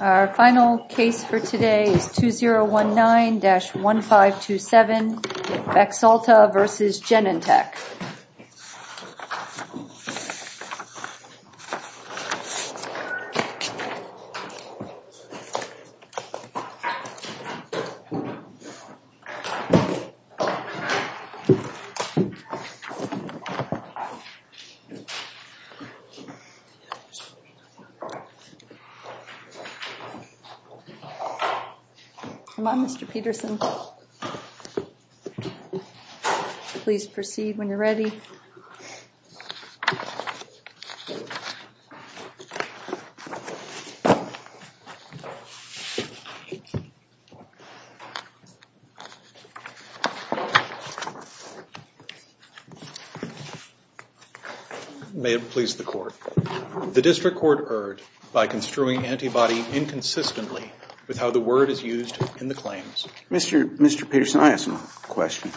Our final case for today is 2019-1527, Baxalta v. Genentech. Mr. Peterson, please proceed when you're ready. May it please the Court. The District Court erred by construing antibody inconsistently with how the word is used in the claims. Mr. Peterson, I have some questions.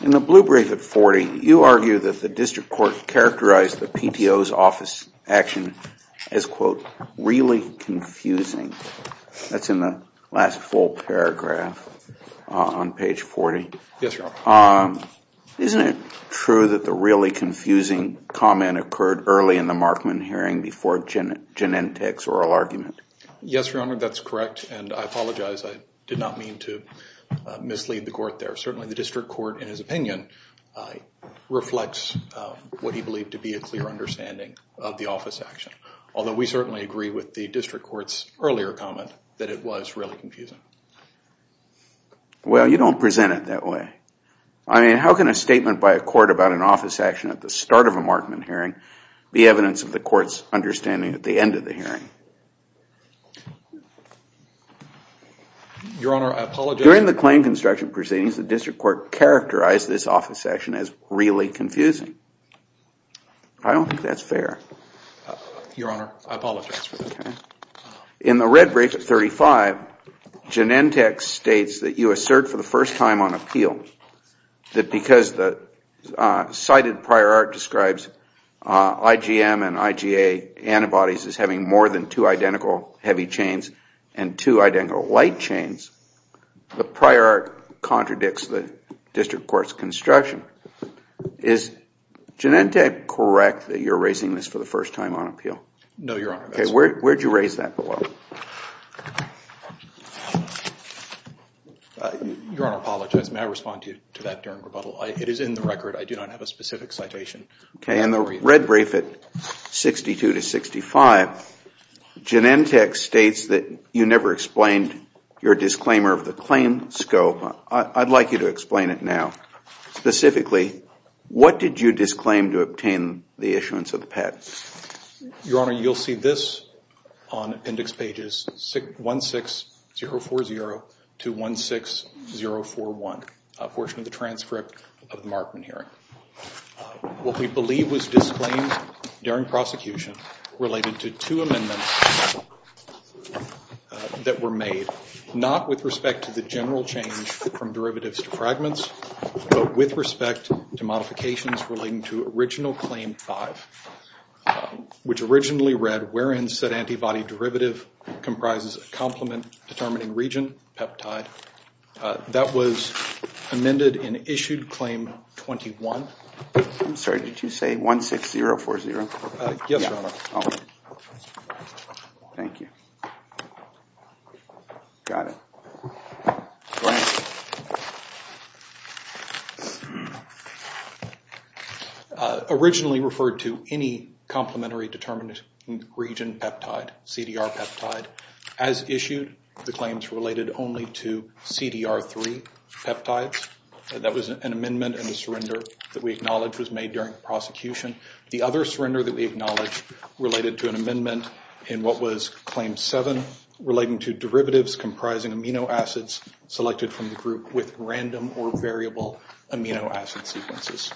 In the blue brief at 40, you argue that the District Court characterized the PTO's office action as, quote, really confusing. That's in the last full paragraph on page 40. Isn't it true that the really confusing comment occurred early in the Markman hearing before Genentech's oral argument? Yes, Your Honor, that's correct, and I apologize, I did not mean to mislead the Court there. Certainly, the District Court, in his opinion, reflects what he believed to be a clear understanding of the office action, although we certainly agree with the District Court's earlier comment that it was really confusing. Well, you don't present it that way. I mean, how can a statement by a court about an office action at the start of a Markman hearing be evidence of the Court's understanding at the end of the hearing? Your Honor, I apologize. During the claim construction proceedings, the District Court characterized this office action as really confusing. I don't think that's fair. Your Honor, I apologize for that. In the red brief at 35, Genentech states that you assert for the first time on appeal that because the cited prior art describes IgM and IgA antibodies as having more than two The prior art contradicts the District Court's construction. Is Genentech correct that you're raising this for the first time on appeal? No, Your Honor. Okay, where did you raise that below? Your Honor, I apologize, may I respond to that during rebuttal? It is in the record. I do not have a specific citation. Okay, in the red brief at 62 to 65, Genentech states that you never explained your disclaimer of the claim scope. I'd like you to explain it now. Specifically, what did you disclaim to obtain the issuance of the patent? Your Honor, you'll see this on appendix pages 16040 to 16041, a portion of the transcript of the Markman hearing. What we believe was disclaimed during prosecution related to two amendments that were made, not with respect to the general change from derivatives to fragments, but with respect to modifications relating to original claim five, which originally read, wherein said antibody derivative comprises a complement determining region, peptide. That was amended in issued claim 21. I'm sorry, did you say 16040? Yes, Your Honor. Thank you. Got it. Originally referred to any complementary determining region peptide, CDR peptide. As issued, the claims related only to CDR3 peptides. That was an amendment and a surrender that we acknowledge was made during prosecution. The other surrender that we acknowledge related to an amendment in what was claim seven relating to derivatives comprising amino acids selected from the group with random or variable amino acid sequences.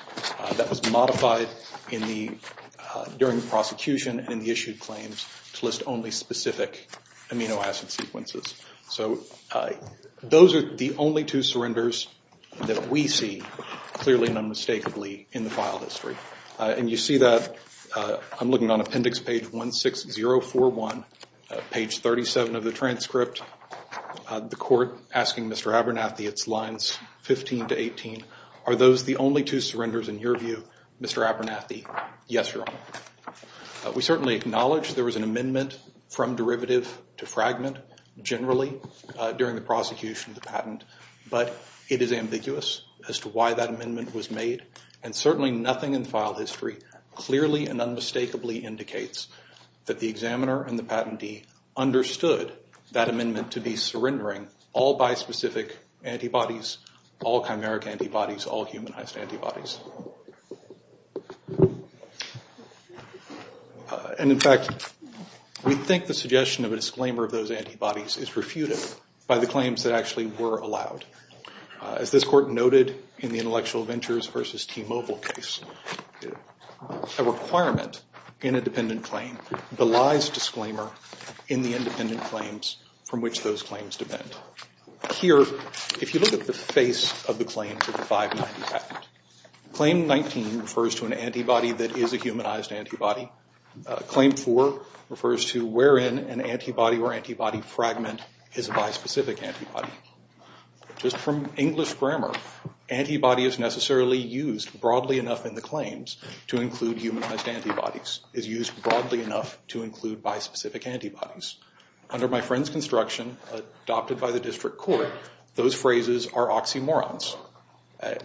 That was modified during the prosecution and in the issued claims to list only specific amino acid sequences. So those are the only two surrenders that we see clearly and unmistakably in the file history. And you see that I'm looking on appendix page 16041, page 37 of the transcript, the court asking Mr. Abernathy, it's lines 15 to 18. Are those the only two surrenders in your view, Mr. Abernathy? Yes, Your Honor. We certainly acknowledge there was an amendment from derivative to fragment generally during the prosecution of the patent, but it is ambiguous as to why that amendment was made. And certainly nothing in file history clearly and unmistakably indicates that the examiner and the patentee understood that amendment to be surrendering all bispecific antibodies, all chimeric antibodies, all humanized antibodies. And in fact, we think the suggestion of a disclaimer of those antibodies is refuted by the claims that actually were allowed. As this court noted in the Intellectual Ventures v. T-Mobile case, a requirement in a dependent claim belies disclaimer in the independent claims from which those claims depend. Here if you look at the face of the claims of the 590 patent, claim 19 refers to an antibody that is a humanized antibody. Claim 4 refers to wherein an antibody or antibody fragment is a bispecific antibody. Just from English grammar, antibody is necessarily used broadly enough in the claims to include humanized antibodies, is used broadly enough to include bispecific antibodies. Under my friend's construction, adopted by the district court, those phrases are oxymorons. An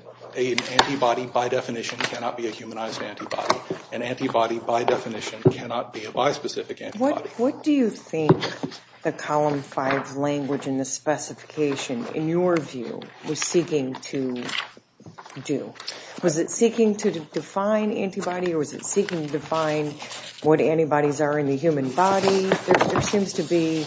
antibody, by definition, cannot be a humanized antibody. An antibody, by definition, cannot be a bispecific antibody. What do you think the Column 5 language and the specification, in your view, was seeking to do? Was it seeking to define antibody or was it seeking to define what antibodies are in the human body? There seems to be,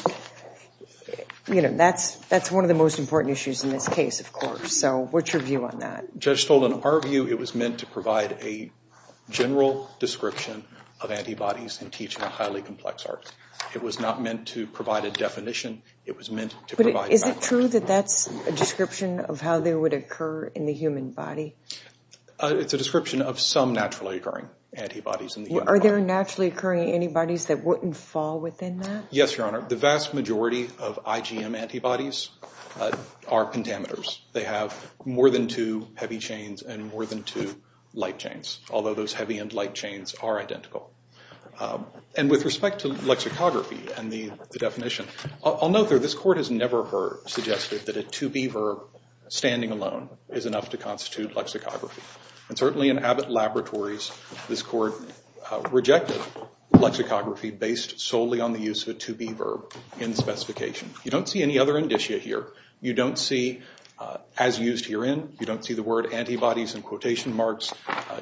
you know, that's one of the most important issues in this case, of course. What's your view on that? Judge Stoll, in our view, it was meant to provide a general description of antibodies in teaching a highly complex art. It was not meant to provide a definition. It was meant to provide... But is it true that that's a description of how they would occur in the human body? It's a description of some naturally occurring antibodies in the human body. Are there naturally occurring antibodies that wouldn't fall within that? Yes, Your Honor. The vast majority of IgM antibodies are pentameters. They have more than two heavy chains and more than two light chains, although those heavy and light chains are identical. And with respect to lexicography and the definition, I'll note that this Court has never suggested that a to-be verb standing alone is enough to constitute lexicography. And certainly in Abbott Laboratories, this Court rejected lexicography based solely on the use of a to-be verb in specification. You don't see any other indicia here. You don't see, as used herein, you don't see the word antibodies in quotation marks.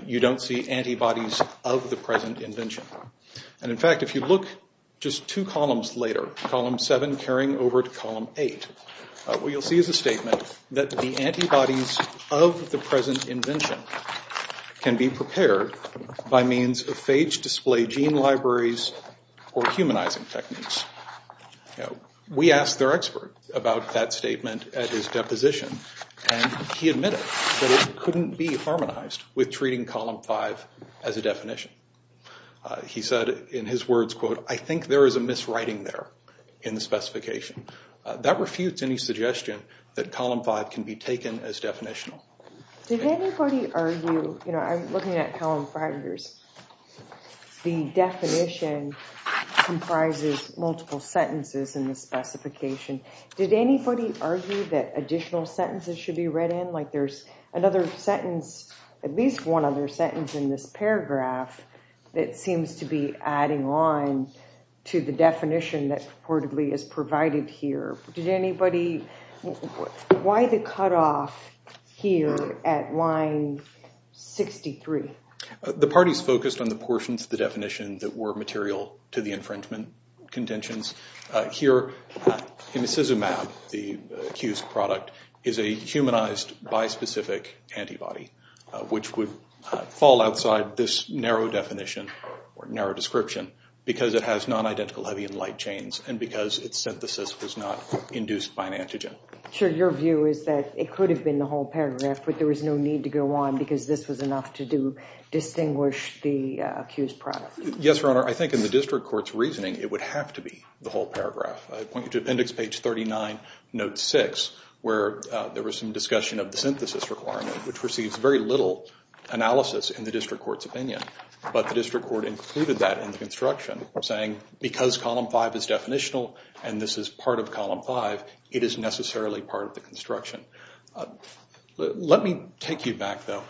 You don't see antibodies of the present invention. And in fact, if you look just two columns later, column seven carrying over to column eight, what you'll see is a statement that the antibodies of the present invention can be prepared by means of phage display gene libraries or humanizing techniques. We asked their expert about that statement at his deposition, and he admitted that it couldn't be harmonized with treating column five as a definition. He said in his words, quote, I think there is a miswriting there in the specification. That refutes any suggestion that column five can be taken as definitional. Did anybody argue, you know, I'm looking at column five here, the definition comprises multiple sentences in the specification. Did anybody argue that additional sentences should be read in? Like there's another sentence, at least one other sentence in this paragraph that seems to be adding on to the definition that purportedly is provided here. Did anybody, why the cutoff here at line 63? The parties focused on the portions of the definition that were material to the infringement contentions. Here, imicizumab, the accused product, is a humanized bispecific antibody, which would fall outside this narrow definition or narrow description because it has non-identical heavy and light chains and because its synthesis was not induced by an antigen. Sure, your view is that it could have been the whole paragraph, but there was no need to go on because this was enough to distinguish the accused product. Yes, Your Honor. I think in the district court's reasoning, it would have to be the whole paragraph. I point you to appendix page 39, note six, where there was some discussion of the synthesis requirement, which receives very little analysis in the district court's opinion. But the district court included that in the construction, saying because column five is definitional and this is part of column five, it is necessarily part of the construction. Let me take you back, though,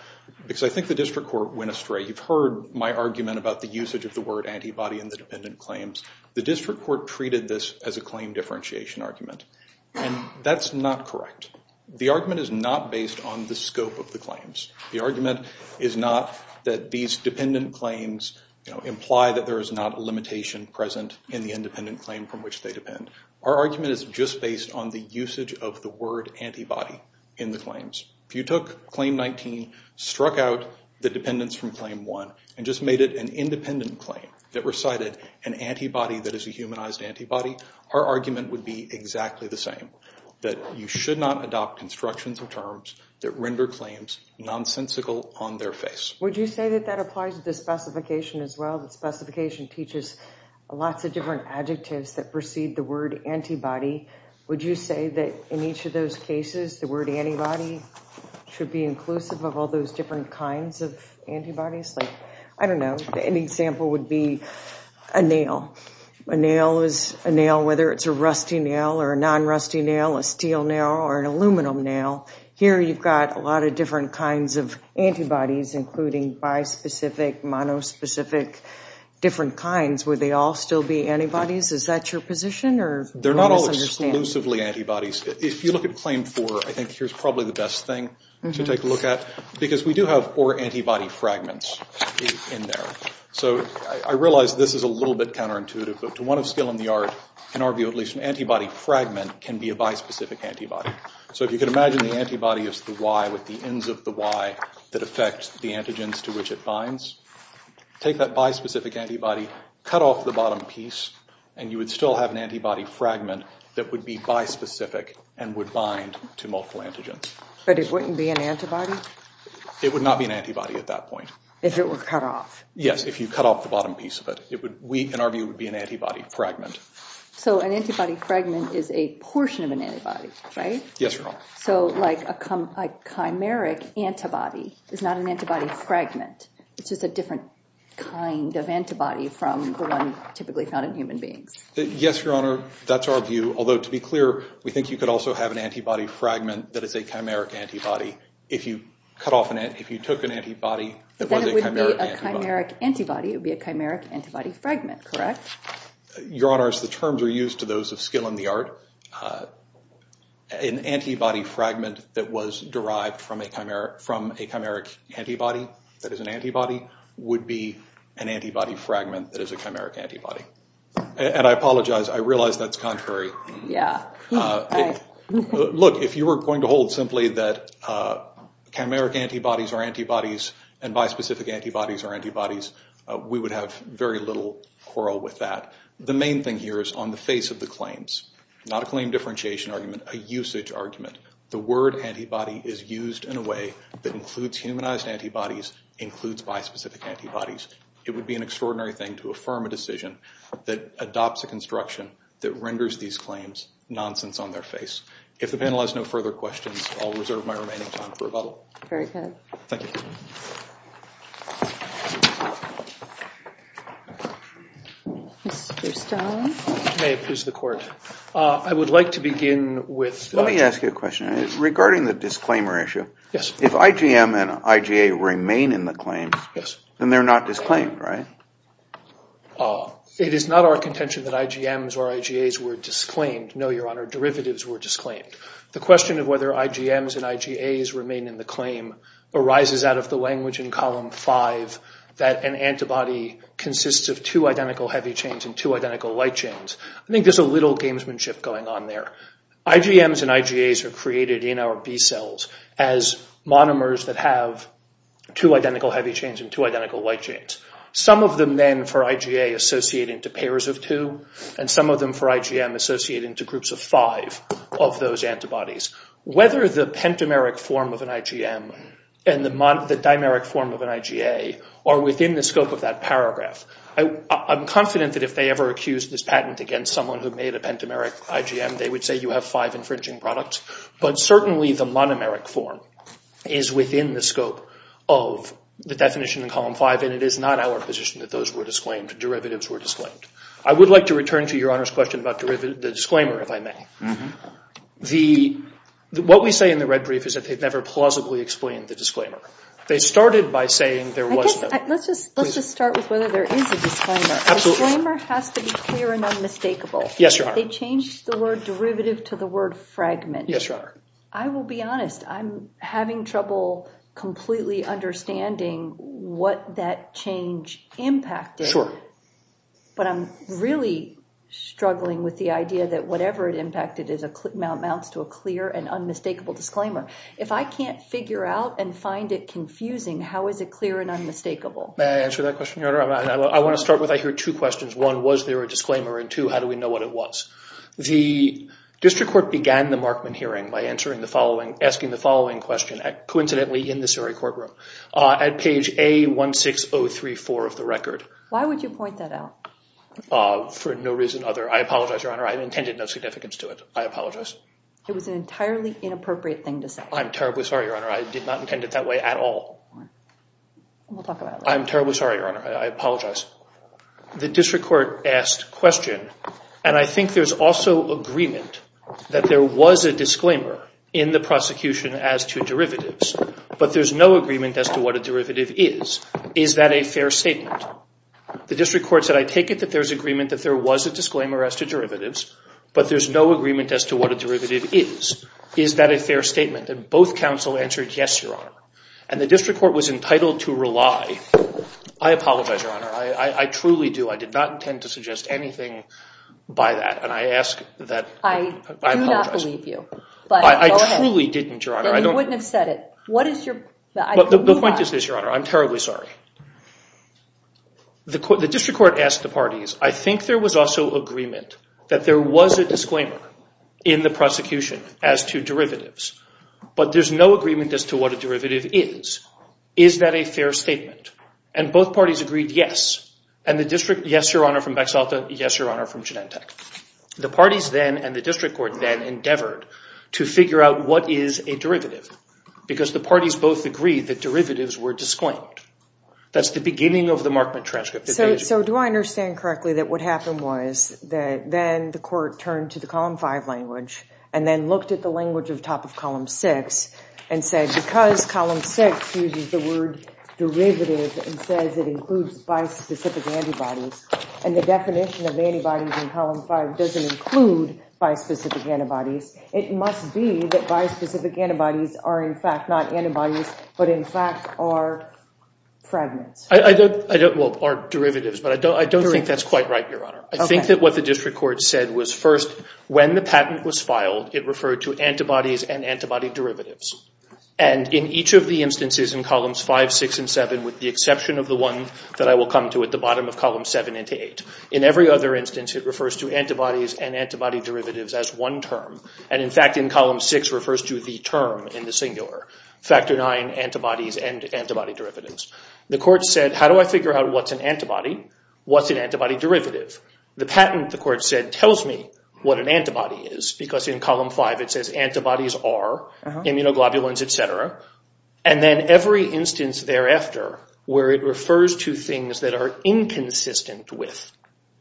because I think the district court went astray. You've heard my argument about the usage of the word antibody in the dependent claims. The district court treated this as a claim differentiation argument, and that's not correct. The argument is not based on the scope of the claims. The argument is not that these dependent claims imply that there is not a limitation present in the independent claim from which they depend. Our argument is just based on the usage of the word antibody in the claims. If you took claim 19, struck out the dependents from claim 1, and just made it an independent claim that recited an antibody that is a humanized antibody, our argument would be exactly the same, that you should not adopt constructions or terms that render claims nonsensical on their face. Would you say that that applies to the specification as well? The specification teaches lots of different adjectives that precede the word antibody. Would you say that in each of those cases, the word antibody should be inclusive of all those different kinds of antibodies? I don't know. An example would be a nail. A nail is a nail, whether it's a rusty nail or a non-rusty nail, a steel nail, or an aluminum nail. Here you've got a lot of different kinds of antibodies, including bispecific, monospecific, different kinds. Would they all still be antibodies? Is that your position? Or am I misunderstanding? They're not all exclusively antibodies. If you look at claim 4, I think here's probably the best thing to take a look at, because we do have or antibody fragments in there. So I realize this is a little bit counterintuitive, but to one of skill in the art, in our view, at least an antibody fragment can be a bispecific antibody. So if you can imagine the antibody as the Y with the ends of the Y that affect the antigens to which it binds, take that bispecific antibody, cut off the bottom piece, and you would still have an antibody fragment that would be bispecific and would bind to multiple antigens. But it wouldn't be an antibody? It would not be an antibody at that point. If it were cut off? Yes, if you cut off the bottom piece of it. It would, in our view, be an antibody fragment. So an antibody fragment is a portion of an antibody, right? Yes, Your Honor. So like a chimeric antibody is not an antibody fragment. It's just a different kind of antibody from the one typically found in human beings. Yes, Your Honor. That's our view. Although, to be clear, we think you could also have an antibody fragment that is a chimeric antibody if you took an antibody that was a chimeric antibody. Then it would be a chimeric antibody, it would be a chimeric antibody fragment, correct? Your Honor, as the terms are used to those of skill in the art, an antibody fragment that was derived from a chimeric antibody that is an antibody would be an antibody fragment that is a chimeric antibody. And I apologize, I realize that's contrary. Look, if you were going to hold simply that chimeric antibodies are antibodies and bispecific antibodies are antibodies, we would have very little quarrel with that. The main thing here is on the face of the claims, not a claim differentiation argument, a usage argument. The word antibody is used in a way that includes humanized antibodies, includes bispecific antibodies. It would be an extraordinary thing to affirm a decision that adopts a construction that renders these claims nonsense on their face. If the panel has no further questions, I'll reserve my remaining time for rebuttal. Very good. Thank you. Mr. Stone? May it please the Court. I would like to begin with… Let me ask you a question. Regarding the disclaimer issue, if IgM and IgA remain in the claim, then they're not disclaimed, right? It is not our contention that IgMs or IgAs were disclaimed. No, Your Honor, derivatives were disclaimed. in column 5 that an antibody consists of two identical heavy chains and two identical light chains. I think there's a little gamesmanship going on there. IgMs and IgAs are created in our B cells as monomers that have two identical heavy chains and two identical light chains. Some of them, then, for IgA associate into pairs of two, and some of them for IgM associate into groups of five of those antibodies. Whether the pentameric form of an IgM and the dimeric form of an IgA are within the scope of that paragraph, I'm confident that if they ever accused this patent against someone who made a pentameric IgM, they would say you have five infringing products, but certainly the monomeric form is within the scope of the definition in column 5, and it is not our position that those were disclaimed, derivatives were disclaimed. I would like to return to Your Honor's question about the disclaimer, if I may. What we say in the red brief is that they've never plausibly explained the disclaimer. They started by saying there was no— Let's just start with whether there is a disclaimer. Absolutely. A disclaimer has to be clear and unmistakable. Yes, Your Honor. They changed the word derivative to the word fragment. Yes, Your Honor. I will be honest. I'm having trouble completely understanding what that change impacted. Sure. But I'm really struggling with the idea that whatever it impacted mounts to a clear and unmistakable disclaimer. If I can't figure out and find it confusing, how is it clear and unmistakable? May I answer that question, Your Honor? I want to start with, I hear two questions. One, was there a disclaimer? And two, how do we know what it was? The district court began the Markman hearing by asking the following question, coincidentally in this very courtroom, at page A16034 of the record. Why would you point that out? For no reason other. I apologize, Your Honor. I intended no significance to it. I apologize. It was an entirely inappropriate thing to say. I'm terribly sorry, Your Honor. I did not intend it that way at all. We'll talk about that. I'm terribly sorry, Your Honor. I apologize. The district court asked a question, and I think there's also agreement that there was a disclaimer in the prosecution as to derivatives, but there's no agreement as to what a derivative is. Is that a fair statement? The district court said, I take it that there's agreement that there was a disclaimer as to derivatives, but there's no agreement as to what a derivative is. Is that a fair statement? And both counsel answered, yes, Your Honor. And the district court was entitled to rely. I apologize, Your Honor. I truly do. I did not intend to suggest anything by that. And I ask that I apologize. I do not believe you. But go ahead. I truly didn't, Your Honor. Then you wouldn't have said it. What is your point? The point is this, Your Honor. I'm terribly sorry. The district court asked the parties, I think there was also agreement that there was a disclaimer in the prosecution as to derivatives, but there's no agreement as to what a derivative is. Is that a fair statement? And both parties agreed, yes. And the district, yes, Your Honor, from Bexalta. Yes, Your Honor, from Genentech. The parties then, and the district court then, endeavored to figure out what is a derivative, because the parties both agreed that derivatives were disclaimed. That's the beginning of the Markman transcript. So do I understand correctly that what happened was that then the court turned to the Column 5 language and then looked at the language at the top of Column 6 and said, because Column 6 uses the word derivative and says it includes bispecific antibodies, and the definition of antibodies in Column 5 doesn't include bispecific antibodies, it must be that bispecific antibodies are in fact not antibodies, but in fact are fragments? I don't, well, are derivatives, but I don't think that's quite right, Your Honor. I think that what the district court said was first, when the patent was filed, it referred to antibodies and antibody derivatives. And in each of the instances in Columns 5, 6, and 7, with the exception of the one that I will come to at the bottom of Column 7 into 8, in every other instance it refers to antibodies and antibody derivatives as one term. And in fact in Column 6 refers to the term in the singular, factor IX antibodies and antibody derivatives. The court said, how do I figure out what's an antibody, what's an antibody derivative? The patent, the court said, tells me what an antibody is, because in Column 5 it says antibodies are immunoglobulins, et cetera. And then every instance thereafter where it refers to things that are inconsistent with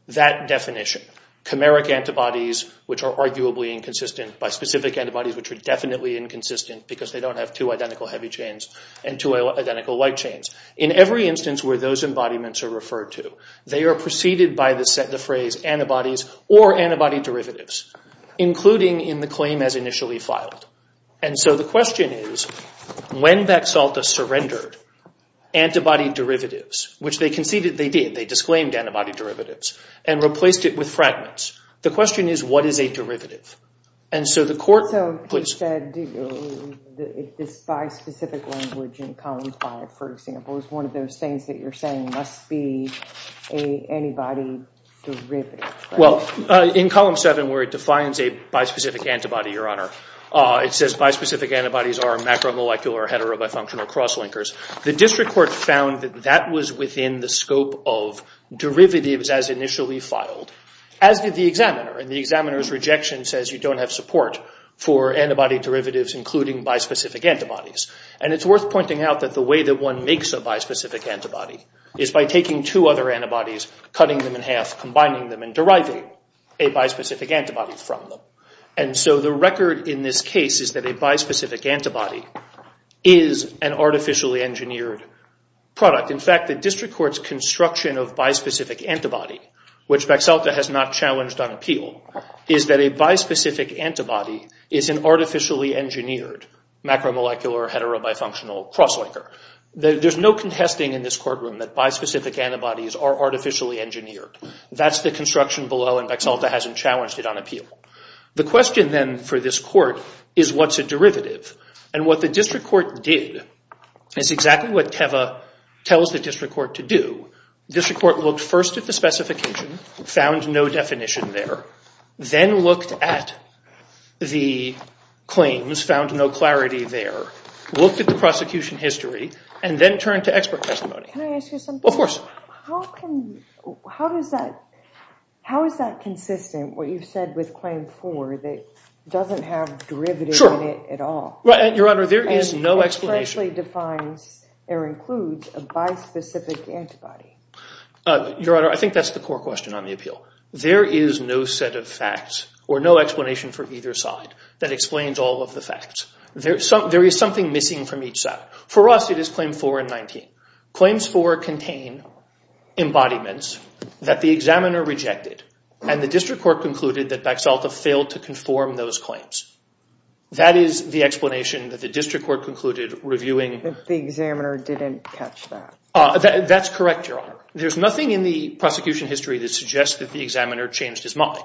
that definition, chimeric antibodies, which are arguably inconsistent, by specific antibodies, which are definitely inconsistent because they don't have two identical heavy chains and two identical light chains. In every instance where those embodiments are referred to, they are preceded by the phrase antibodies or antibody derivatives, including in the claim as initially filed. And so the question is, when Bexalta surrendered antibody derivatives, which they conceded they did, they disclaimed antibody derivatives, and replaced it with fragments. The question is, what is a derivative? And so the court puts- So he said this by specific language in Column 5, for example, is one of those things that you're saying must be an antibody derivative. Well, in Column 7 where it defines a by specific antibody, Your Honor, it says by specific antibodies are macromolecular or heterobifunctional crosslinkers. The district court found that that was within the scope of derivatives as initially filed, as did the examiner. And the examiner's rejection says you don't have support for antibody derivatives, including by specific antibodies. And it's worth pointing out that the way that one makes a by specific antibody is by taking two other antibodies, cutting them in half, combining them, and deriving a by specific antibody from them. And so the record in this case is that a by specific antibody is an artificially engineered product. In fact, the district court's construction of by specific antibody, which Bexalta has not challenged on appeal, is that a by specific antibody is an artificially engineered macromolecular heterobifunctional crosslinker. There's no contesting in this courtroom that by specific antibodies are artificially engineered. That's the construction below and Bexalta hasn't challenged it on appeal. The question then for this court is what's a derivative? And what the district court did is exactly what Teva tells the district court to do. The district court looked first at the specification, found no definition there, then looked at the claims, found no clarity there, looked at the prosecution history, and then turned to expert testimony. Can I ask you something? Of course. How is that consistent, what you've said, with claim four that doesn't have derivative in it at all? Your Honor, there is no explanation. It essentially defines or includes a by specific antibody. Your Honor, I think that's the core question on the appeal. There is no set of facts or no explanation for either side that explains all of the facts. There is something missing from each side. For us, it is claim four and 19. Claims four contain embodiments that the examiner rejected and the district court concluded that Baxalta failed to conform those claims. That is the explanation that the district court concluded reviewing. The examiner didn't catch that. That's correct, Your Honor. There's nothing in the prosecution history that suggests that the examiner changed his mind.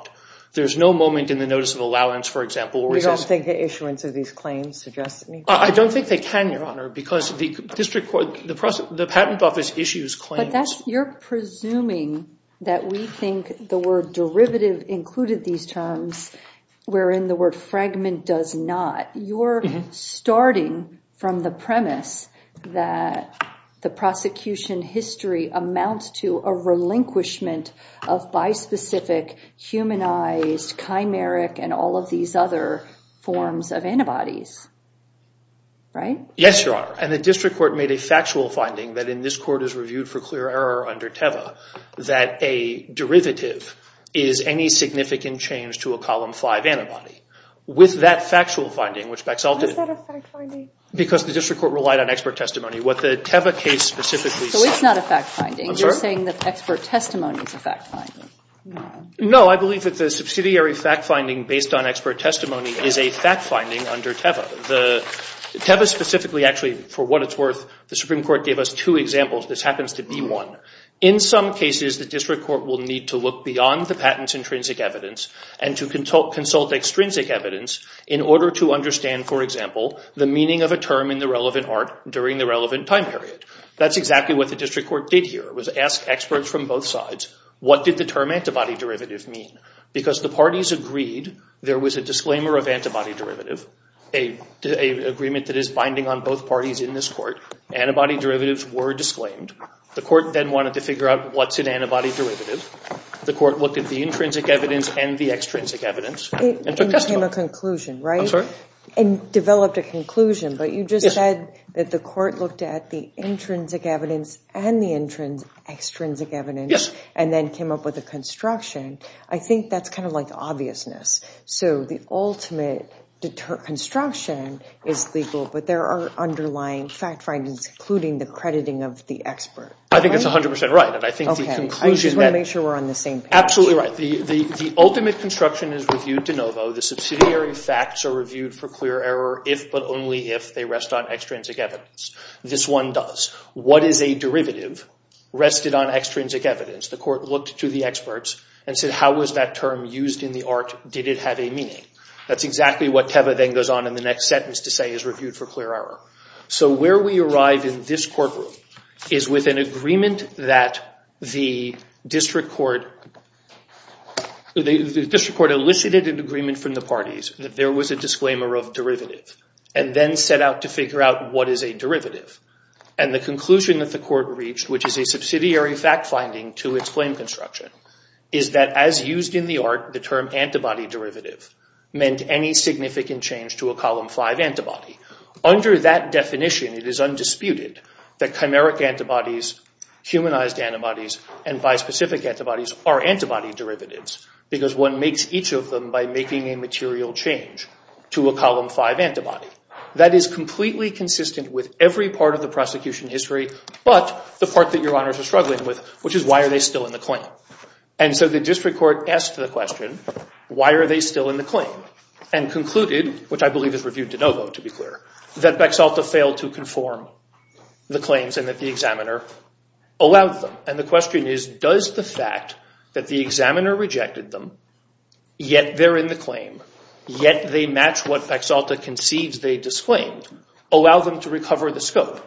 There's no moment in the notice of allowance, for example, where he says. You don't think the issuance of these claims suggests anything? I don't think they can, Your Honor, because the patent office issues claims. But you're presuming that we think the word derivative included these terms, wherein the word fragment does not. You're starting from the premise that the prosecution history amounts to a relinquishment of by specific, humanized, chimeric, and all of these other forms of antibodies. Right? Yes, Your Honor. And the district court made a factual finding that in this court is reviewed for clear error under TEVA that a derivative is any significant change to a column five antibody. With that factual finding, which Baxalta. Why is that a fact finding? Because the district court relied on expert testimony. What the TEVA case specifically said. So it's not a fact finding. I'm sorry? You're saying that expert testimony is a fact finding. No, I believe that the subsidiary fact finding based on expert testimony is a fact finding under TEVA. TEVA specifically, actually, for what it's worth, the Supreme Court gave us two examples. This happens to be one. In some cases, the district court will need to look beyond the patent's intrinsic evidence and to consult extrinsic evidence in order to understand, for example, the meaning of a term in the relevant art during the relevant time period. That's exactly what the district court did here, was ask experts from both sides, what did the term antibody derivative mean? Because the parties agreed there was a disclaimer of antibody derivative, an agreement that is binding on both parties in this court. Antibody derivatives were disclaimed. The court then wanted to figure out what's an antibody derivative. The court looked at the intrinsic evidence and the extrinsic evidence. And came to a conclusion, right? I'm sorry? And developed a conclusion. But you just said that the court looked at the intrinsic evidence and the extrinsic evidence. Yes. And then came up with a construction. I think that's kind of like obviousness. So the ultimate construction is legal, but there are underlying fact findings, including the crediting of the expert. I think that's 100% right. And I think the conclusion that— Okay. I just want to make sure we're on the same page. Absolutely right. The ultimate construction is reviewed de novo. The subsidiary facts are reviewed for clear error if but only if they rest on extrinsic evidence. This one does. What is a derivative rested on extrinsic evidence? The court looked to the experts and said, how was that term used in the art? Did it have a meaning? That's exactly what Teva then goes on in the next sentence to say is reviewed for clear error. So where we arrive in this courtroom is with an agreement that the district court— the district court elicited an agreement from the parties that there was a disclaimer of derivative. And then set out to figure out what is a derivative. And the conclusion that the court reached, which is a subsidiary fact finding to its claim construction, is that as used in the art, the term antibody derivative meant any significant change to a Column 5 antibody. Under that definition, it is undisputed that chimeric antibodies, humanized antibodies, and bispecific antibodies are antibody derivatives because one makes each of them by making a material change to a Column 5 antibody. That is completely consistent with every part of the prosecution history, but the part that Your Honors are struggling with, which is why are they still in the claim? And so the district court asked the question, why are they still in the claim? And concluded, which I believe is reviewed de novo to be clear, that Bexalta failed to conform the claims and that the examiner allowed them. And the question is, does the fact that the examiner rejected them, yet they're in the claim, yet they match what Bexalta concedes they disclaimed, allow them to recover the scope?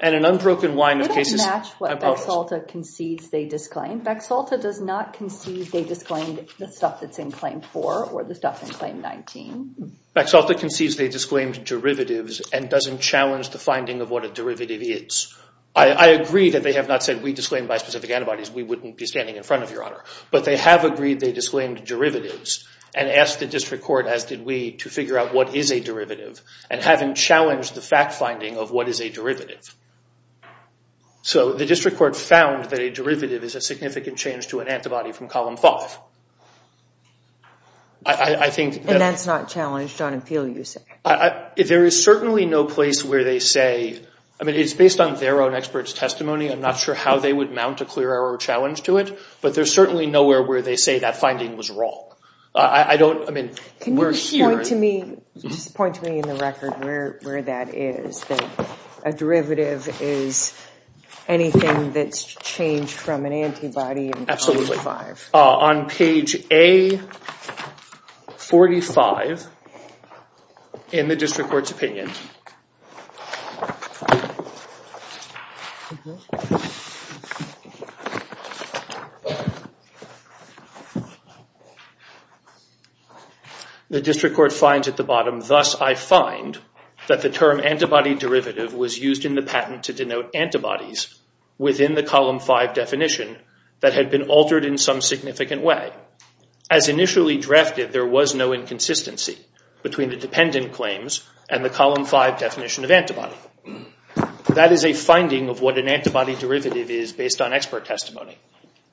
And an unbroken line of cases... It doesn't match what Bexalta concedes they disclaimed. Bexalta does not concede they disclaimed the stuff that's in Claim 4 or the stuff in Claim 19. Bexalta concedes they disclaimed derivatives and doesn't challenge the finding of what a derivative is. I agree that they have not said, we disclaimed bispecific antibodies, we wouldn't be standing in front of Your Honor. But they have agreed they disclaimed derivatives and asked the district court, as did we, to figure out what is a derivative and haven't challenged the fact finding of what is a derivative. So the district court found that a derivative is a significant change to an antibody from Column 5. I think... And that's not challenged on appeal, you say? There is certainly no place where they say... I mean, it's based on their own experts' testimony. I'm not sure how they would mount a clear error challenge to it. But there's certainly nowhere where they say that finding was wrong. I don't, I mean... Can you just point to me, just point to me in the record where that is, that a derivative is anything that's changed from an antibody in Column 5? Absolutely. On page A45 in the district court's opinion. The district court finds at the bottom, thus I find that the term antibody derivative was used in the patent to denote antibodies within the Column 5 definition that had been altered in some significant way. As initially drafted, there was no inconsistency between the dependent claims and the Column 5 definition of antibody. That is a finding of what an antibody derivative is based on expert testimony.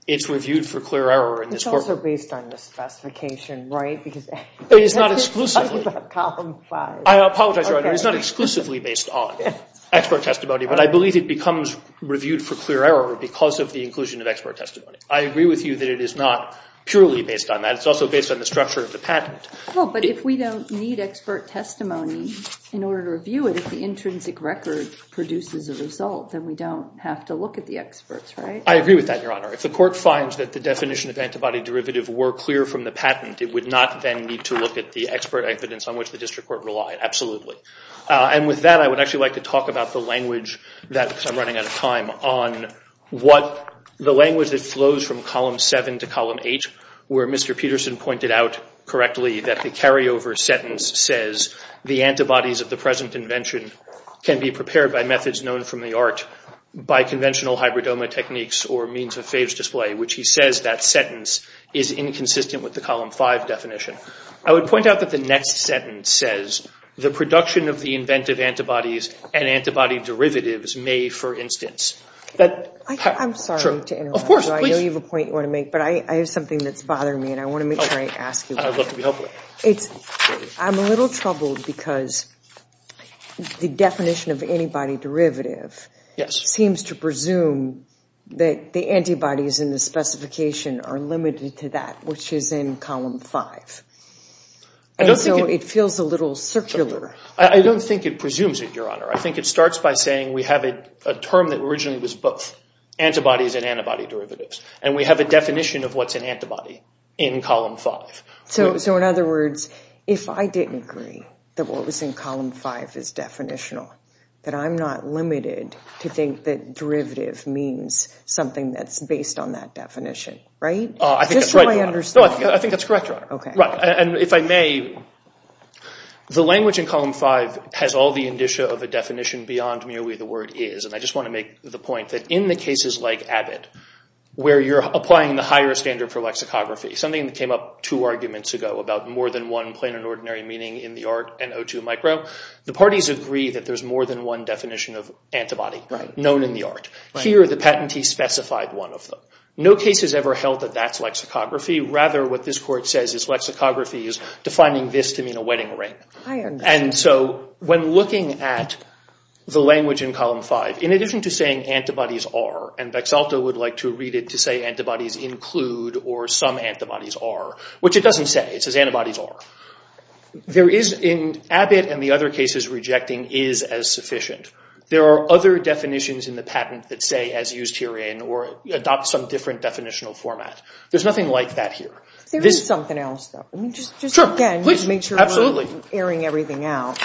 It's reviewed for clear error in this court. It's also based on the specification, right? It's not exclusively. I apologize, Your Honor. It's not exclusively based on expert testimony, but I believe it becomes reviewed for clear error because of the inclusion of expert testimony. I agree with you that it is not purely based on that. It's also based on the structure of the patent. Well, but if we don't need expert testimony in order to review it, if the intrinsic record produces a result, then we don't have to look at the experts, right? I agree with that, Your Honor. If the court finds that the definition of antibody derivative were clear from the patent, it would not then need to look at the expert evidence on which the district court relied, absolutely. And with that, I would actually like to talk about the language that, because I'm running out of time, on what the language that flows from Column 7 to Column 8 where Mr. Peterson pointed out correctly that the carryover sentence says, the antibodies of the present invention can be prepared by methods known from the art, by conventional hybridoma techniques or means of phage display, which he says that sentence is inconsistent with the Column 5 definition. I would point out that the next sentence says, the production of the inventive antibodies and antibody derivatives may, for instance. I'm sorry to interrupt. Of course, please. I know you have a point you want to make, but I have something that's bothering me, and I want to make sure I ask you about it. I'd love to be helpful. I'm a little troubled because the definition of antibody derivative seems to presume that the antibodies in the specification are limited to that, which is in Column 5. And so it feels a little circular. I don't think it presumes it, Your Honor. I think it starts by saying we have a term that originally was both antibodies and antibody derivatives, and we have a definition of what's an antibody in Column 5. So, in other words, if I didn't agree that what was in Column 5 is definitional, that I'm not limited to think that derivative means something that's based on that definition, right? Just so I understand. I think that's correct, Your Honor. If I may, the language in Column 5 has all the indicia of a definition beyond merely the word is, and I just want to make the point that in the cases like Abbott, where you're applying the higher standard for lexicography, something that came up two arguments ago about more than one plain and ordinary meaning in the art and O2 micro, the parties agree that there's more than one definition of antibody known in the art. Here, the patentee specified one of them. No case has ever held that that's lexicography. Rather, what this Court says is lexicography is defining this to mean a wedding ring. And so when looking at the language in Column 5, in addition to saying antibodies are, and Bexalta would like to read it to say antibodies include or some antibodies are, which it doesn't say. It says antibodies are. There is in Abbott and the other cases rejecting is as sufficient. There are other definitions in the patent that say as used herein or adopt some different definitional format. There's nothing like that here. There is something else, though. Just again, just to make sure I'm airing everything out.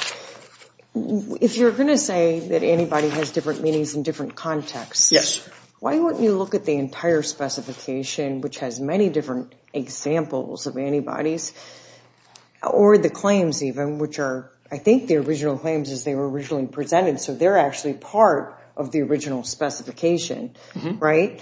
If you're going to say that anybody has different meanings in different contexts, why wouldn't you look at the entire specification, which has many different examples of antibodies, or the claims even, which are I think the original claims as they were originally presented, so they're actually part of the original specification, right?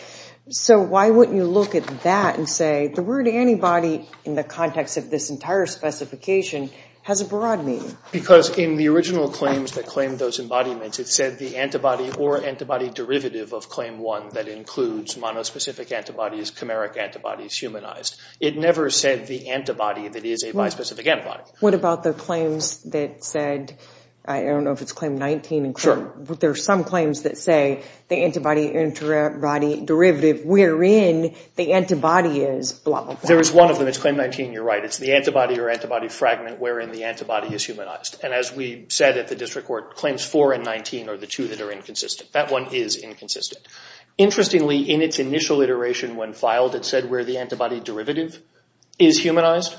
So why wouldn't you look at that and say the word antibody, in the context of this entire specification, has a broad meaning? Because in the original claims that claim those embodiments, it said the antibody or antibody derivative of claim one that includes monospecific antibodies, chimeric antibodies, humanized. It never said the antibody that is a bispecific antibody. What about the claims that said, I don't know if it's claim 19. Sure. There are some claims that say the antibody, antibody derivative wherein the antibody is blah, blah, blah. There is one of them. It's claim 19. You're right. It's the antibody or antibody fragment wherein the antibody is humanized. And as we said at the district court, claims four and 19 are the two that are inconsistent. That one is inconsistent. Interestingly, in its initial iteration when filed, it said where the antibody derivative is humanized.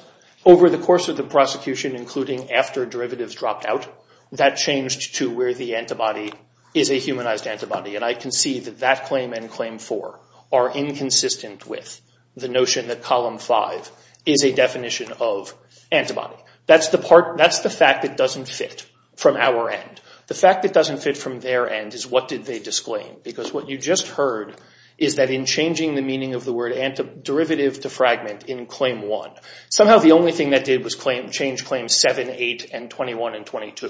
Over the course of the prosecution, including after derivatives dropped out, that changed to where the antibody is a humanized antibody. And I can see that that claim and claim four are inconsistent with the notion that column five is a definition of antibody. That's the fact that doesn't fit from our end. The fact that doesn't fit from their end is what did they disclaim. Because what you just heard is that in changing the meaning of the word antiderivative to fragment in claim one, somehow the only thing that did was change claims seven, eight, and 21 and 22.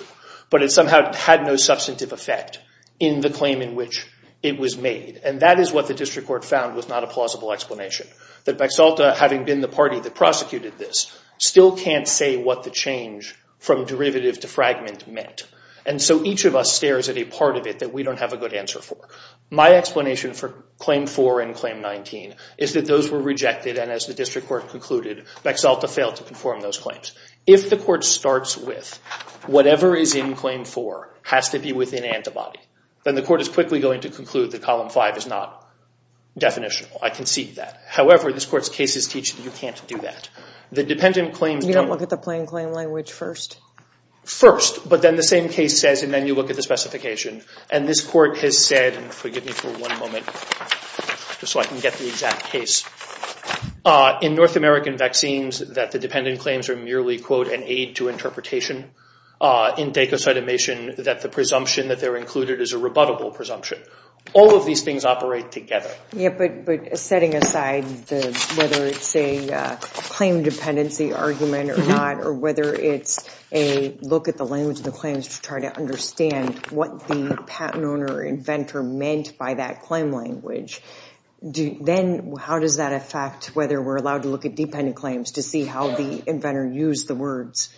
But it somehow had no substantive effect in the claim in which it was made. And that is what the district court found was not a plausible explanation. That Bexalta, having been the party that prosecuted this, still can't say what the change from derivative to fragment meant. And so each of us stares at a part of it that we don't have a good answer for. My explanation for claim four and claim 19 is that those were rejected, and as the district court concluded, Bexalta failed to conform those claims. If the court starts with whatever is in claim four has to be within antibody, then the court is quickly going to conclude that column five is not definitional. I concede that. However, this court's cases teach that you can't do that. You don't look at the plain claim language first? First. But then the same case says, and then you look at the specification. And this court has said, and forgive me for one moment just so I can get the exact case, in North American vaccines that the dependent claims are merely, quote, an aid to interpretation, in dacocytamation that the presumption that they're included is a rebuttable presumption. All of these things operate together. Yeah, but setting aside whether it's a claim dependency argument or not, or whether it's a look at the language of the claims to try to understand what the patent owner or inventor meant by that claim language, then how does that affect whether we're allowed to look at dependent claims to see how the inventor used the words?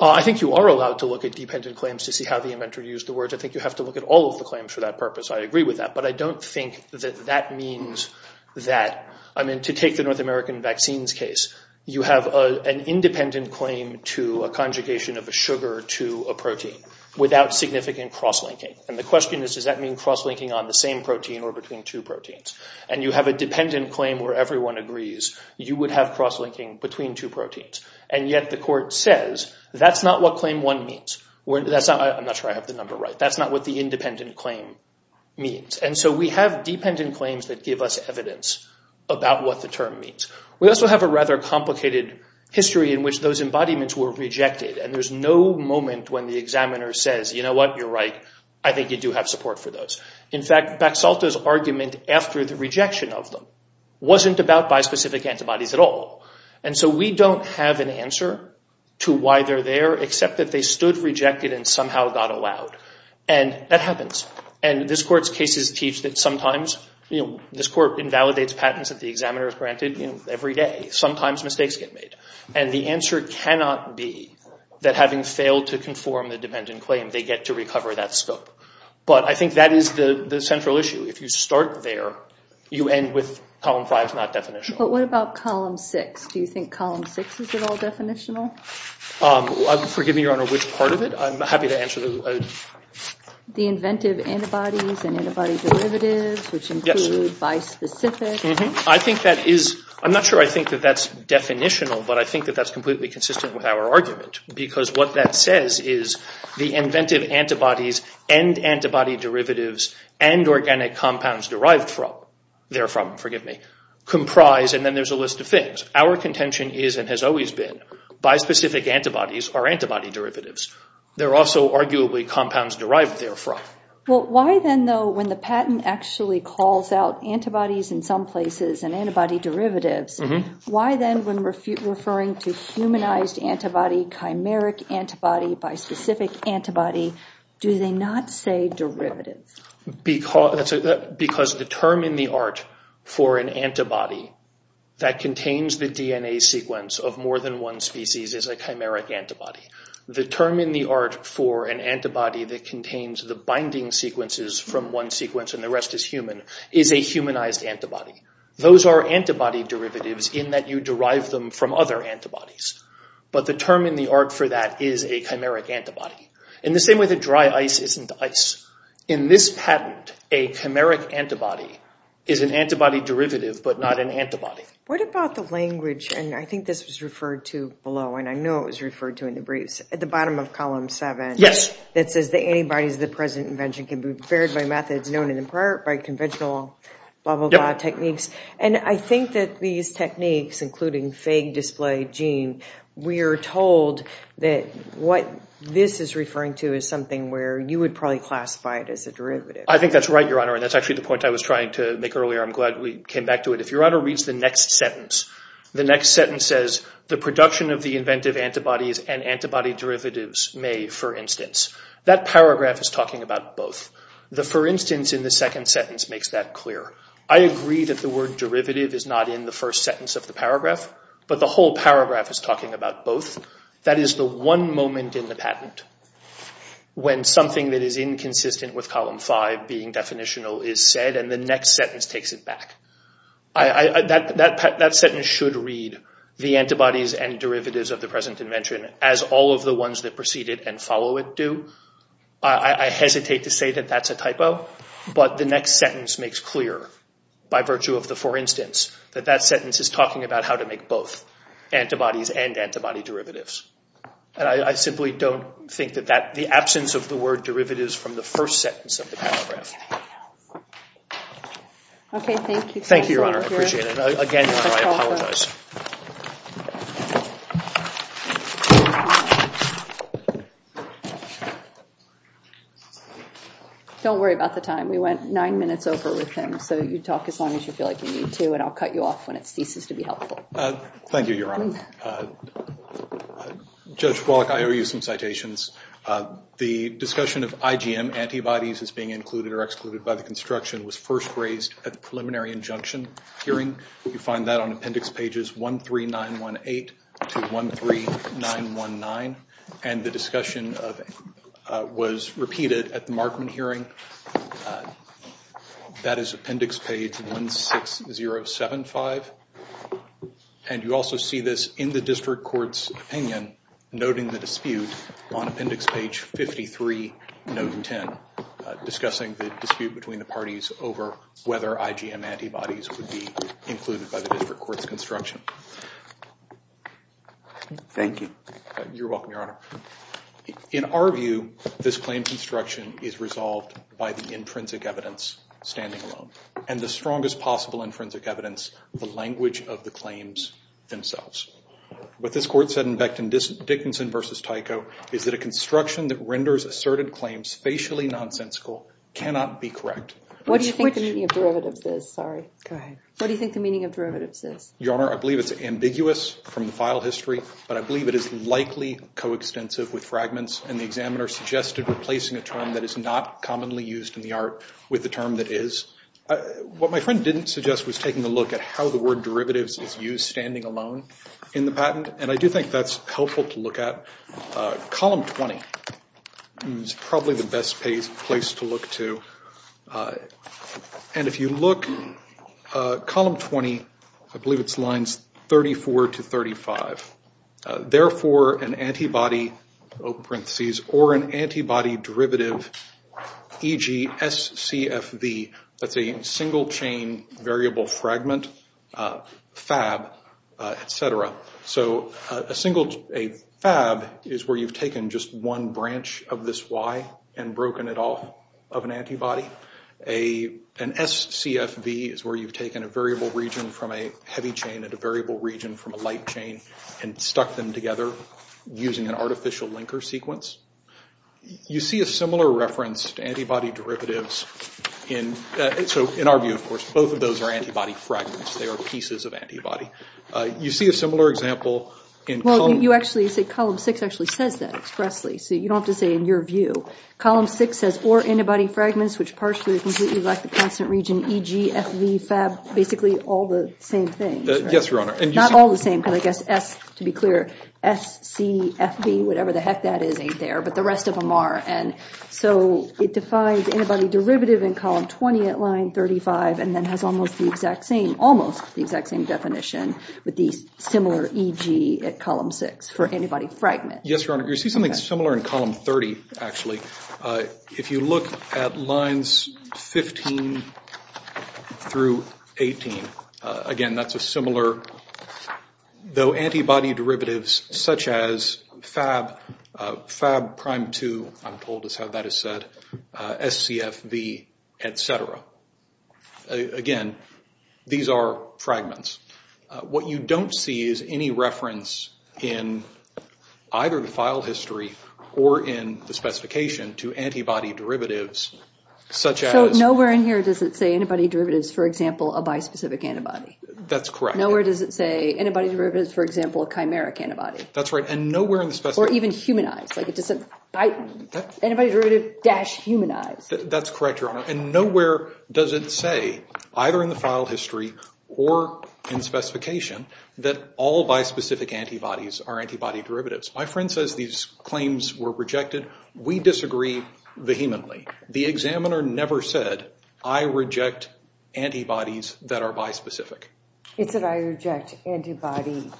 I think you are allowed to look at dependent claims to see how the inventor used the words. I think you have to look at all of the claims for that purpose. I agree with that. But I don't think that that means that, I mean, to take the North American vaccines case, you have an independent claim to a conjugation of a sugar to a protein without significant cross-linking. And the question is, does that mean cross-linking on the same protein or between two proteins? And you have a dependent claim where everyone agrees you would have cross-linking between two proteins. And yet the court says that's not what claim one means. I'm not sure I have the number right. But that's not what the independent claim means. And so we have dependent claims that give us evidence about what the term means. We also have a rather complicated history in which those embodiments were rejected. And there's no moment when the examiner says, you know what, you're right. I think you do have support for those. In fact, Baxalta's argument after the rejection of them wasn't about bispecific antibodies at all. And so we don't have an answer to why they're there except that they stood rejected and somehow got allowed. And that happens. And this court's cases teach that sometimes, you know, this court invalidates patents that the examiner has granted every day. Sometimes mistakes get made. And the answer cannot be that having failed to conform the dependent claim, they get to recover that scope. But I think that is the central issue. If you start there, you end with column five is not definitional. But what about column six? Do you think column six is at all definitional? Forgive me, Your Honor, which part of it? I'm happy to answer. The inventive antibodies and antibody derivatives, which include bispecific. I think that is—I'm not sure I think that that's definitional, but I think that that's completely consistent with our argument. Because what that says is the inventive antibodies and antibody derivatives and organic compounds derived from— and then there's a list of things. Our contention is and has always been bispecific antibodies are antibody derivatives. They're also arguably compounds derived therefrom. Well, why then, though, when the patent actually calls out antibodies in some places and antibody derivatives, why then when referring to humanized antibody, chimeric antibody, bispecific antibody, do they not say derivatives? Because the term in the art for an antibody that contains the DNA sequence of more than one species is a chimeric antibody. The term in the art for an antibody that contains the binding sequences from one sequence and the rest is human is a humanized antibody. Those are antibody derivatives in that you derive them from other antibodies. But the term in the art for that is a chimeric antibody. In the same way that dry ice isn't ice. In this patent, a chimeric antibody is an antibody derivative but not an antibody. What about the language, and I think this was referred to below, and I know it was referred to in the briefs, at the bottom of column seven. Yes. It says the antibodies of the present invention can be prepared by methods known in part by conventional blah, blah, blah techniques. And I think that these techniques, including fake display gene, we are told that what this is referring to is something where you would probably classify it as a derivative. I think that's right, Your Honor, and that's actually the point I was trying to make earlier. I'm glad we came back to it. If Your Honor reads the next sentence, the next sentence says, the production of the inventive antibodies and antibody derivatives may, for instance. That paragraph is talking about both. The for instance in the second sentence makes that clear. I agree that the word derivative is not in the first sentence of the paragraph, but the whole paragraph is talking about both. That is the one moment in the patent when something that is inconsistent with column five being definitional is said, and the next sentence takes it back. That sentence should read, the antibodies and derivatives of the present invention, as all of the ones that precede it and follow it do. I hesitate to say that that's a typo, but the next sentence makes clear, by virtue of the for instance, that that sentence is talking about how to make both antibodies and antibody derivatives. And I simply don't think that the absence of the word derivatives from the first sentence of the paragraph. Thank you, Your Honor. I appreciate it. Again, Your Honor, I apologize. Don't worry about the time. We went nine minutes over with him, so you talk as long as you feel like you need to, and I'll cut you off when it ceases to be helpful. Thank you, Your Honor. Judge Wallach, I owe you some citations. The discussion of IgM antibodies as being included or excluded by the construction was first raised at the preliminary injunction hearing. You find that on appendix pages 13918 to 13919. And the discussion was repeated at the Markman hearing. That is appendix page 16075. And you also see this in the district court's opinion, noting the dispute on appendix page 53, note 10, discussing the dispute between the parties over whether IgM antibodies would be included by the district court's construction. Thank you. You're welcome, Your Honor. In our view, this claim construction is resolved by the intrinsic evidence standing alone and the strongest possible intrinsic evidence, the language of the claims themselves. What this court said in Becton-Dickinson v. Tyco is that a construction that renders asserted claims facially nonsensical cannot be correct. What do you think the meaning of derivatives is? Sorry. Go ahead. What do you think the meaning of derivatives is? Your Honor, I believe it's ambiguous from the file history, but I believe it is likely coextensive with fragments. And the examiner suggested replacing a term that is not commonly used in the art with the term that is. What my friend didn't suggest was taking a look at how the word derivatives is used standing alone in the patent. And I do think that's helpful to look at. Column 20 is probably the best place to look to. And if you look, column 20, I believe it's lines 34 to 35. Therefore, an antibody, open parentheses, or an antibody derivative, e.g. SCFV, that's a single chain variable fragment, FAB, et cetera. So a FAB is where you've taken just one branch of this Y and broken it off of an antibody. An SCFV is where you've taken a variable region from a heavy chain and a variable region from a light chain and stuck them together using an artificial linker sequence. You see a similar reference to antibody derivatives. So in our view, of course, both of those are antibody fragments. They are pieces of antibody. You see a similar example in column... Well, you actually say column 6 actually says that expressly. So you don't have to say in your view. Column 6 says or antibody fragments, which partially or completely lack the constant region, e.g. FV, FAB, basically all the same thing. Yes, Your Honor. Not all the same, because I guess S, to be clear, SCFV, whatever the heck that is, ain't there, but the rest of them are. And so it defines antibody derivative in column 20 at line 35 and then has almost the exact same, almost the exact same definition with the similar e.g. at column 6 for antibody fragment. Yes, Your Honor. You see something similar in column 30, actually. If you look at lines 15 through 18, again, that's a similar... Though antibody derivatives such as FAB, FAB prime 2, I'm told is how that is said, SCFV, etc. Again, these are fragments. What you don't see is any reference in either the file history or in the specification to antibody derivatives such as... So nowhere in here does it say antibody derivatives, for example, a bispecific antibody. That's correct. Nowhere does it say antibody derivatives, for example, a chimeric antibody. That's right. And nowhere in the specification... Or even humanized. Like it doesn't... Antibody derivative dash humanized. That's correct, Your Honor. And nowhere does it say, either in the file history or in specification, that all bispecific antibodies are antibody derivatives. My friend says these claims were rejected. We disagree vehemently. The examiner never said, I reject antibodies that are bispecific. It said, I reject antibody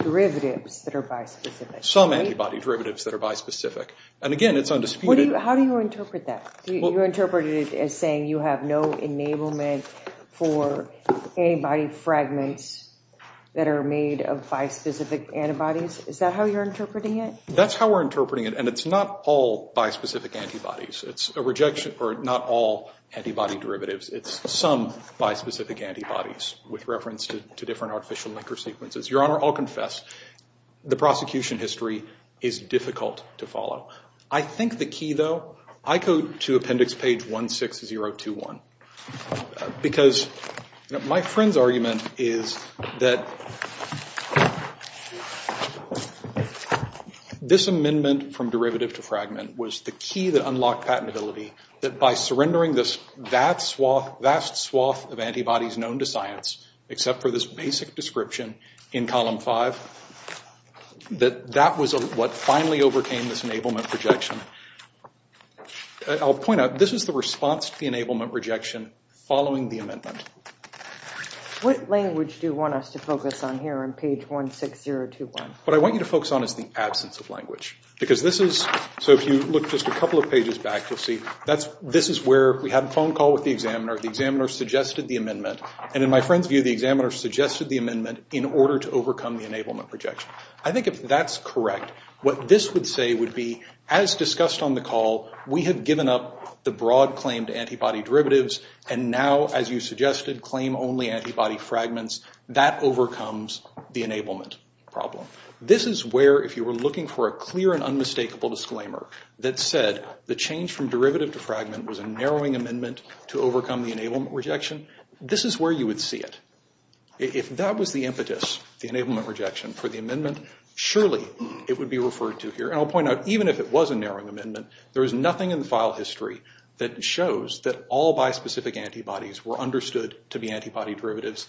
derivatives that are bispecific. Some antibody derivatives that are bispecific. And again, it's undisputed... How do you interpret that? You interpret it as saying you have no enablement for antibody fragments that are made of bispecific antibodies. Is that how you're interpreting it? That's how we're interpreting it, and it's not all bispecific antibodies. It's a rejection for not all antibody derivatives. It's some bispecific antibodies with reference to different artificial micro-sequences. Your Honor, I'll confess, the prosecution history is difficult to follow. I think the key, though, I go to appendix page 16021. Because my friend's argument is that this amendment from derivative to fragment was the key that unlocked patentability. That by surrendering this vast swath of antibodies known to science, except for this basic description in column five, that that was what finally overcame this enablement rejection. I'll point out, this is the response to the enablement rejection following the amendment. What language do you want us to focus on here on page 16021? What I want you to focus on is the absence of language. Because this is... So if you look just a couple of pages back, you'll see this is where we had a phone call with the examiner. The examiner suggested the amendment. And in my friend's view, the examiner suggested the amendment in order to overcome the enablement rejection. I think if that's correct, what this would say would be, as discussed on the call, we have given up the broad claim to antibody derivatives. And now, as you suggested, claim only antibody fragments. That overcomes the enablement problem. This is where, if you were looking for a clear and unmistakable disclaimer that said the change from derivative to fragment was a narrowing amendment to overcome the enablement rejection, this is where you would see it. If that was the impetus, the enablement rejection for the amendment, surely it would be referred to here. And I'll point out, even if it was a narrowing amendment, there is nothing in the file history that shows that all bispecific antibodies were understood to be antibody derivatives.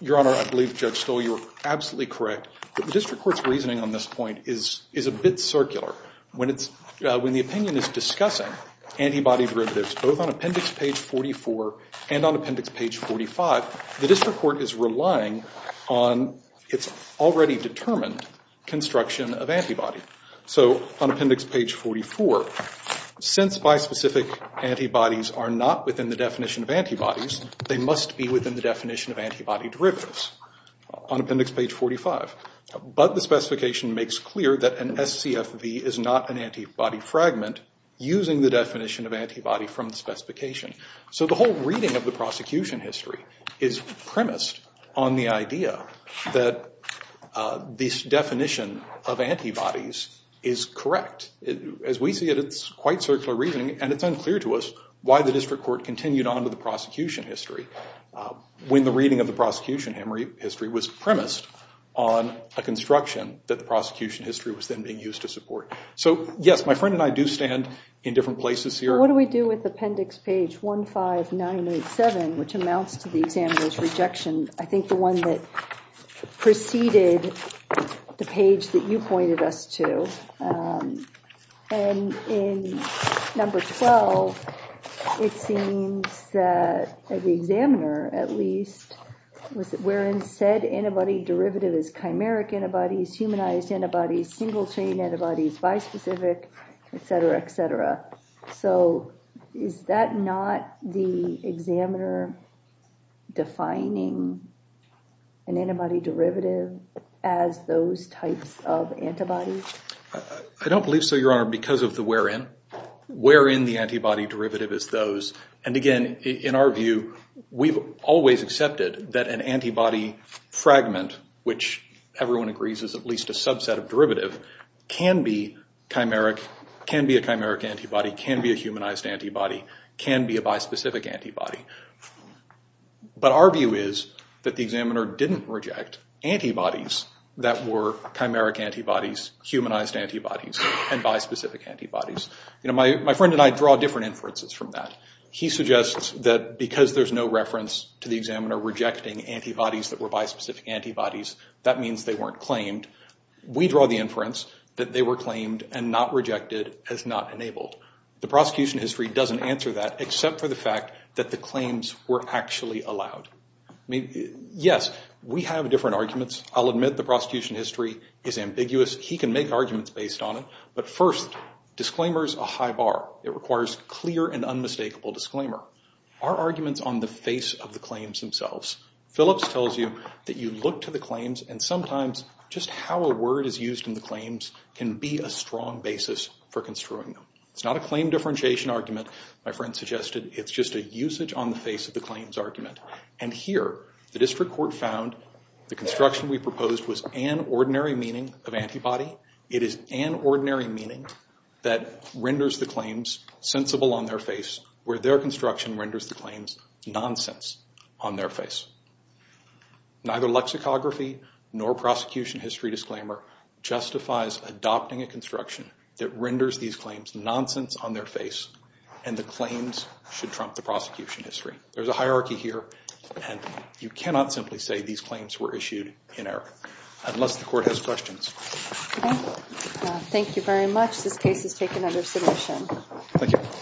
Your Honor, I believe Judge Stoll, you are absolutely correct. The district court's reasoning on this point is a bit circular. When the opinion is discussing antibody derivatives, both on appendix page 44 and on appendix page 45, the district court is relying on its already determined construction of antibody. So on appendix page 44, since bispecific antibodies are not within the definition of antibodies, they must be within the definition of antibody derivatives on appendix page 45. But the specification makes clear that an SCFV is not an antibody fragment using the definition of antibody from the specification. So the whole reading of the prosecution history is premised on the idea that this definition of antibodies is correct. As we see it, it's quite circular reasoning, and it's unclear to us why the district court continued on with the prosecution history when the reading of the prosecution history was premised on a construction that the prosecution history was then being used to support. So, yes, my friend and I do stand in different places here. What do we do with appendix page 15987, which amounts to the examiner's rejection? I think the one that preceded the page that you pointed us to. And in number 12, it seems that the examiner, at least, wherein said antibody derivative is chimeric antibodies, humanized antibodies, single chain antibodies, bispecific, et cetera, et cetera. So is that not the examiner defining an antibody derivative as those types of antibodies? I don't believe so, Your Honor, because of the wherein. Wherein the antibody derivative is those. And, again, in our view, we've always accepted that an antibody fragment, which everyone agrees is at least a subset of derivative, can be a chimeric antibody, can be a humanized antibody, can be a bispecific antibody. But our view is that the examiner didn't reject antibodies that were chimeric antibodies, humanized antibodies, and bispecific antibodies. My friend and I draw different inferences from that. He suggests that because there's no reference to the examiner rejecting antibodies that were bispecific antibodies, that means they weren't claimed. We draw the inference that they were claimed and not rejected as not enabled. The prosecution history doesn't answer that except for the fact that the claims were actually allowed. Yes, we have different arguments. I'll admit the prosecution history is ambiguous. He can make arguments based on it. But, first, disclaimer is a high bar. It requires clear and unmistakable disclaimer. Our arguments on the face of the claims themselves. Phillips tells you that you look to the claims, and sometimes just how a word is used in the claims can be a strong basis for construing them. It's not a claim differentiation argument, my friend suggested. It's just a usage on the face of the claims argument. And here, the district court found the construction we proposed was an ordinary meaning of antibody. It is an ordinary meaning that renders the claims sensible on their face, where their construction renders the claims nonsense on their face. Neither lexicography nor prosecution history disclaimer justifies adopting a construction that renders these claims nonsense on their face, and the claims should trump the prosecution history. There's a hierarchy here, and you cannot simply say these claims were issued in error. Unless the court has questions. Thank you very much. This case is taken under submission. Thank you.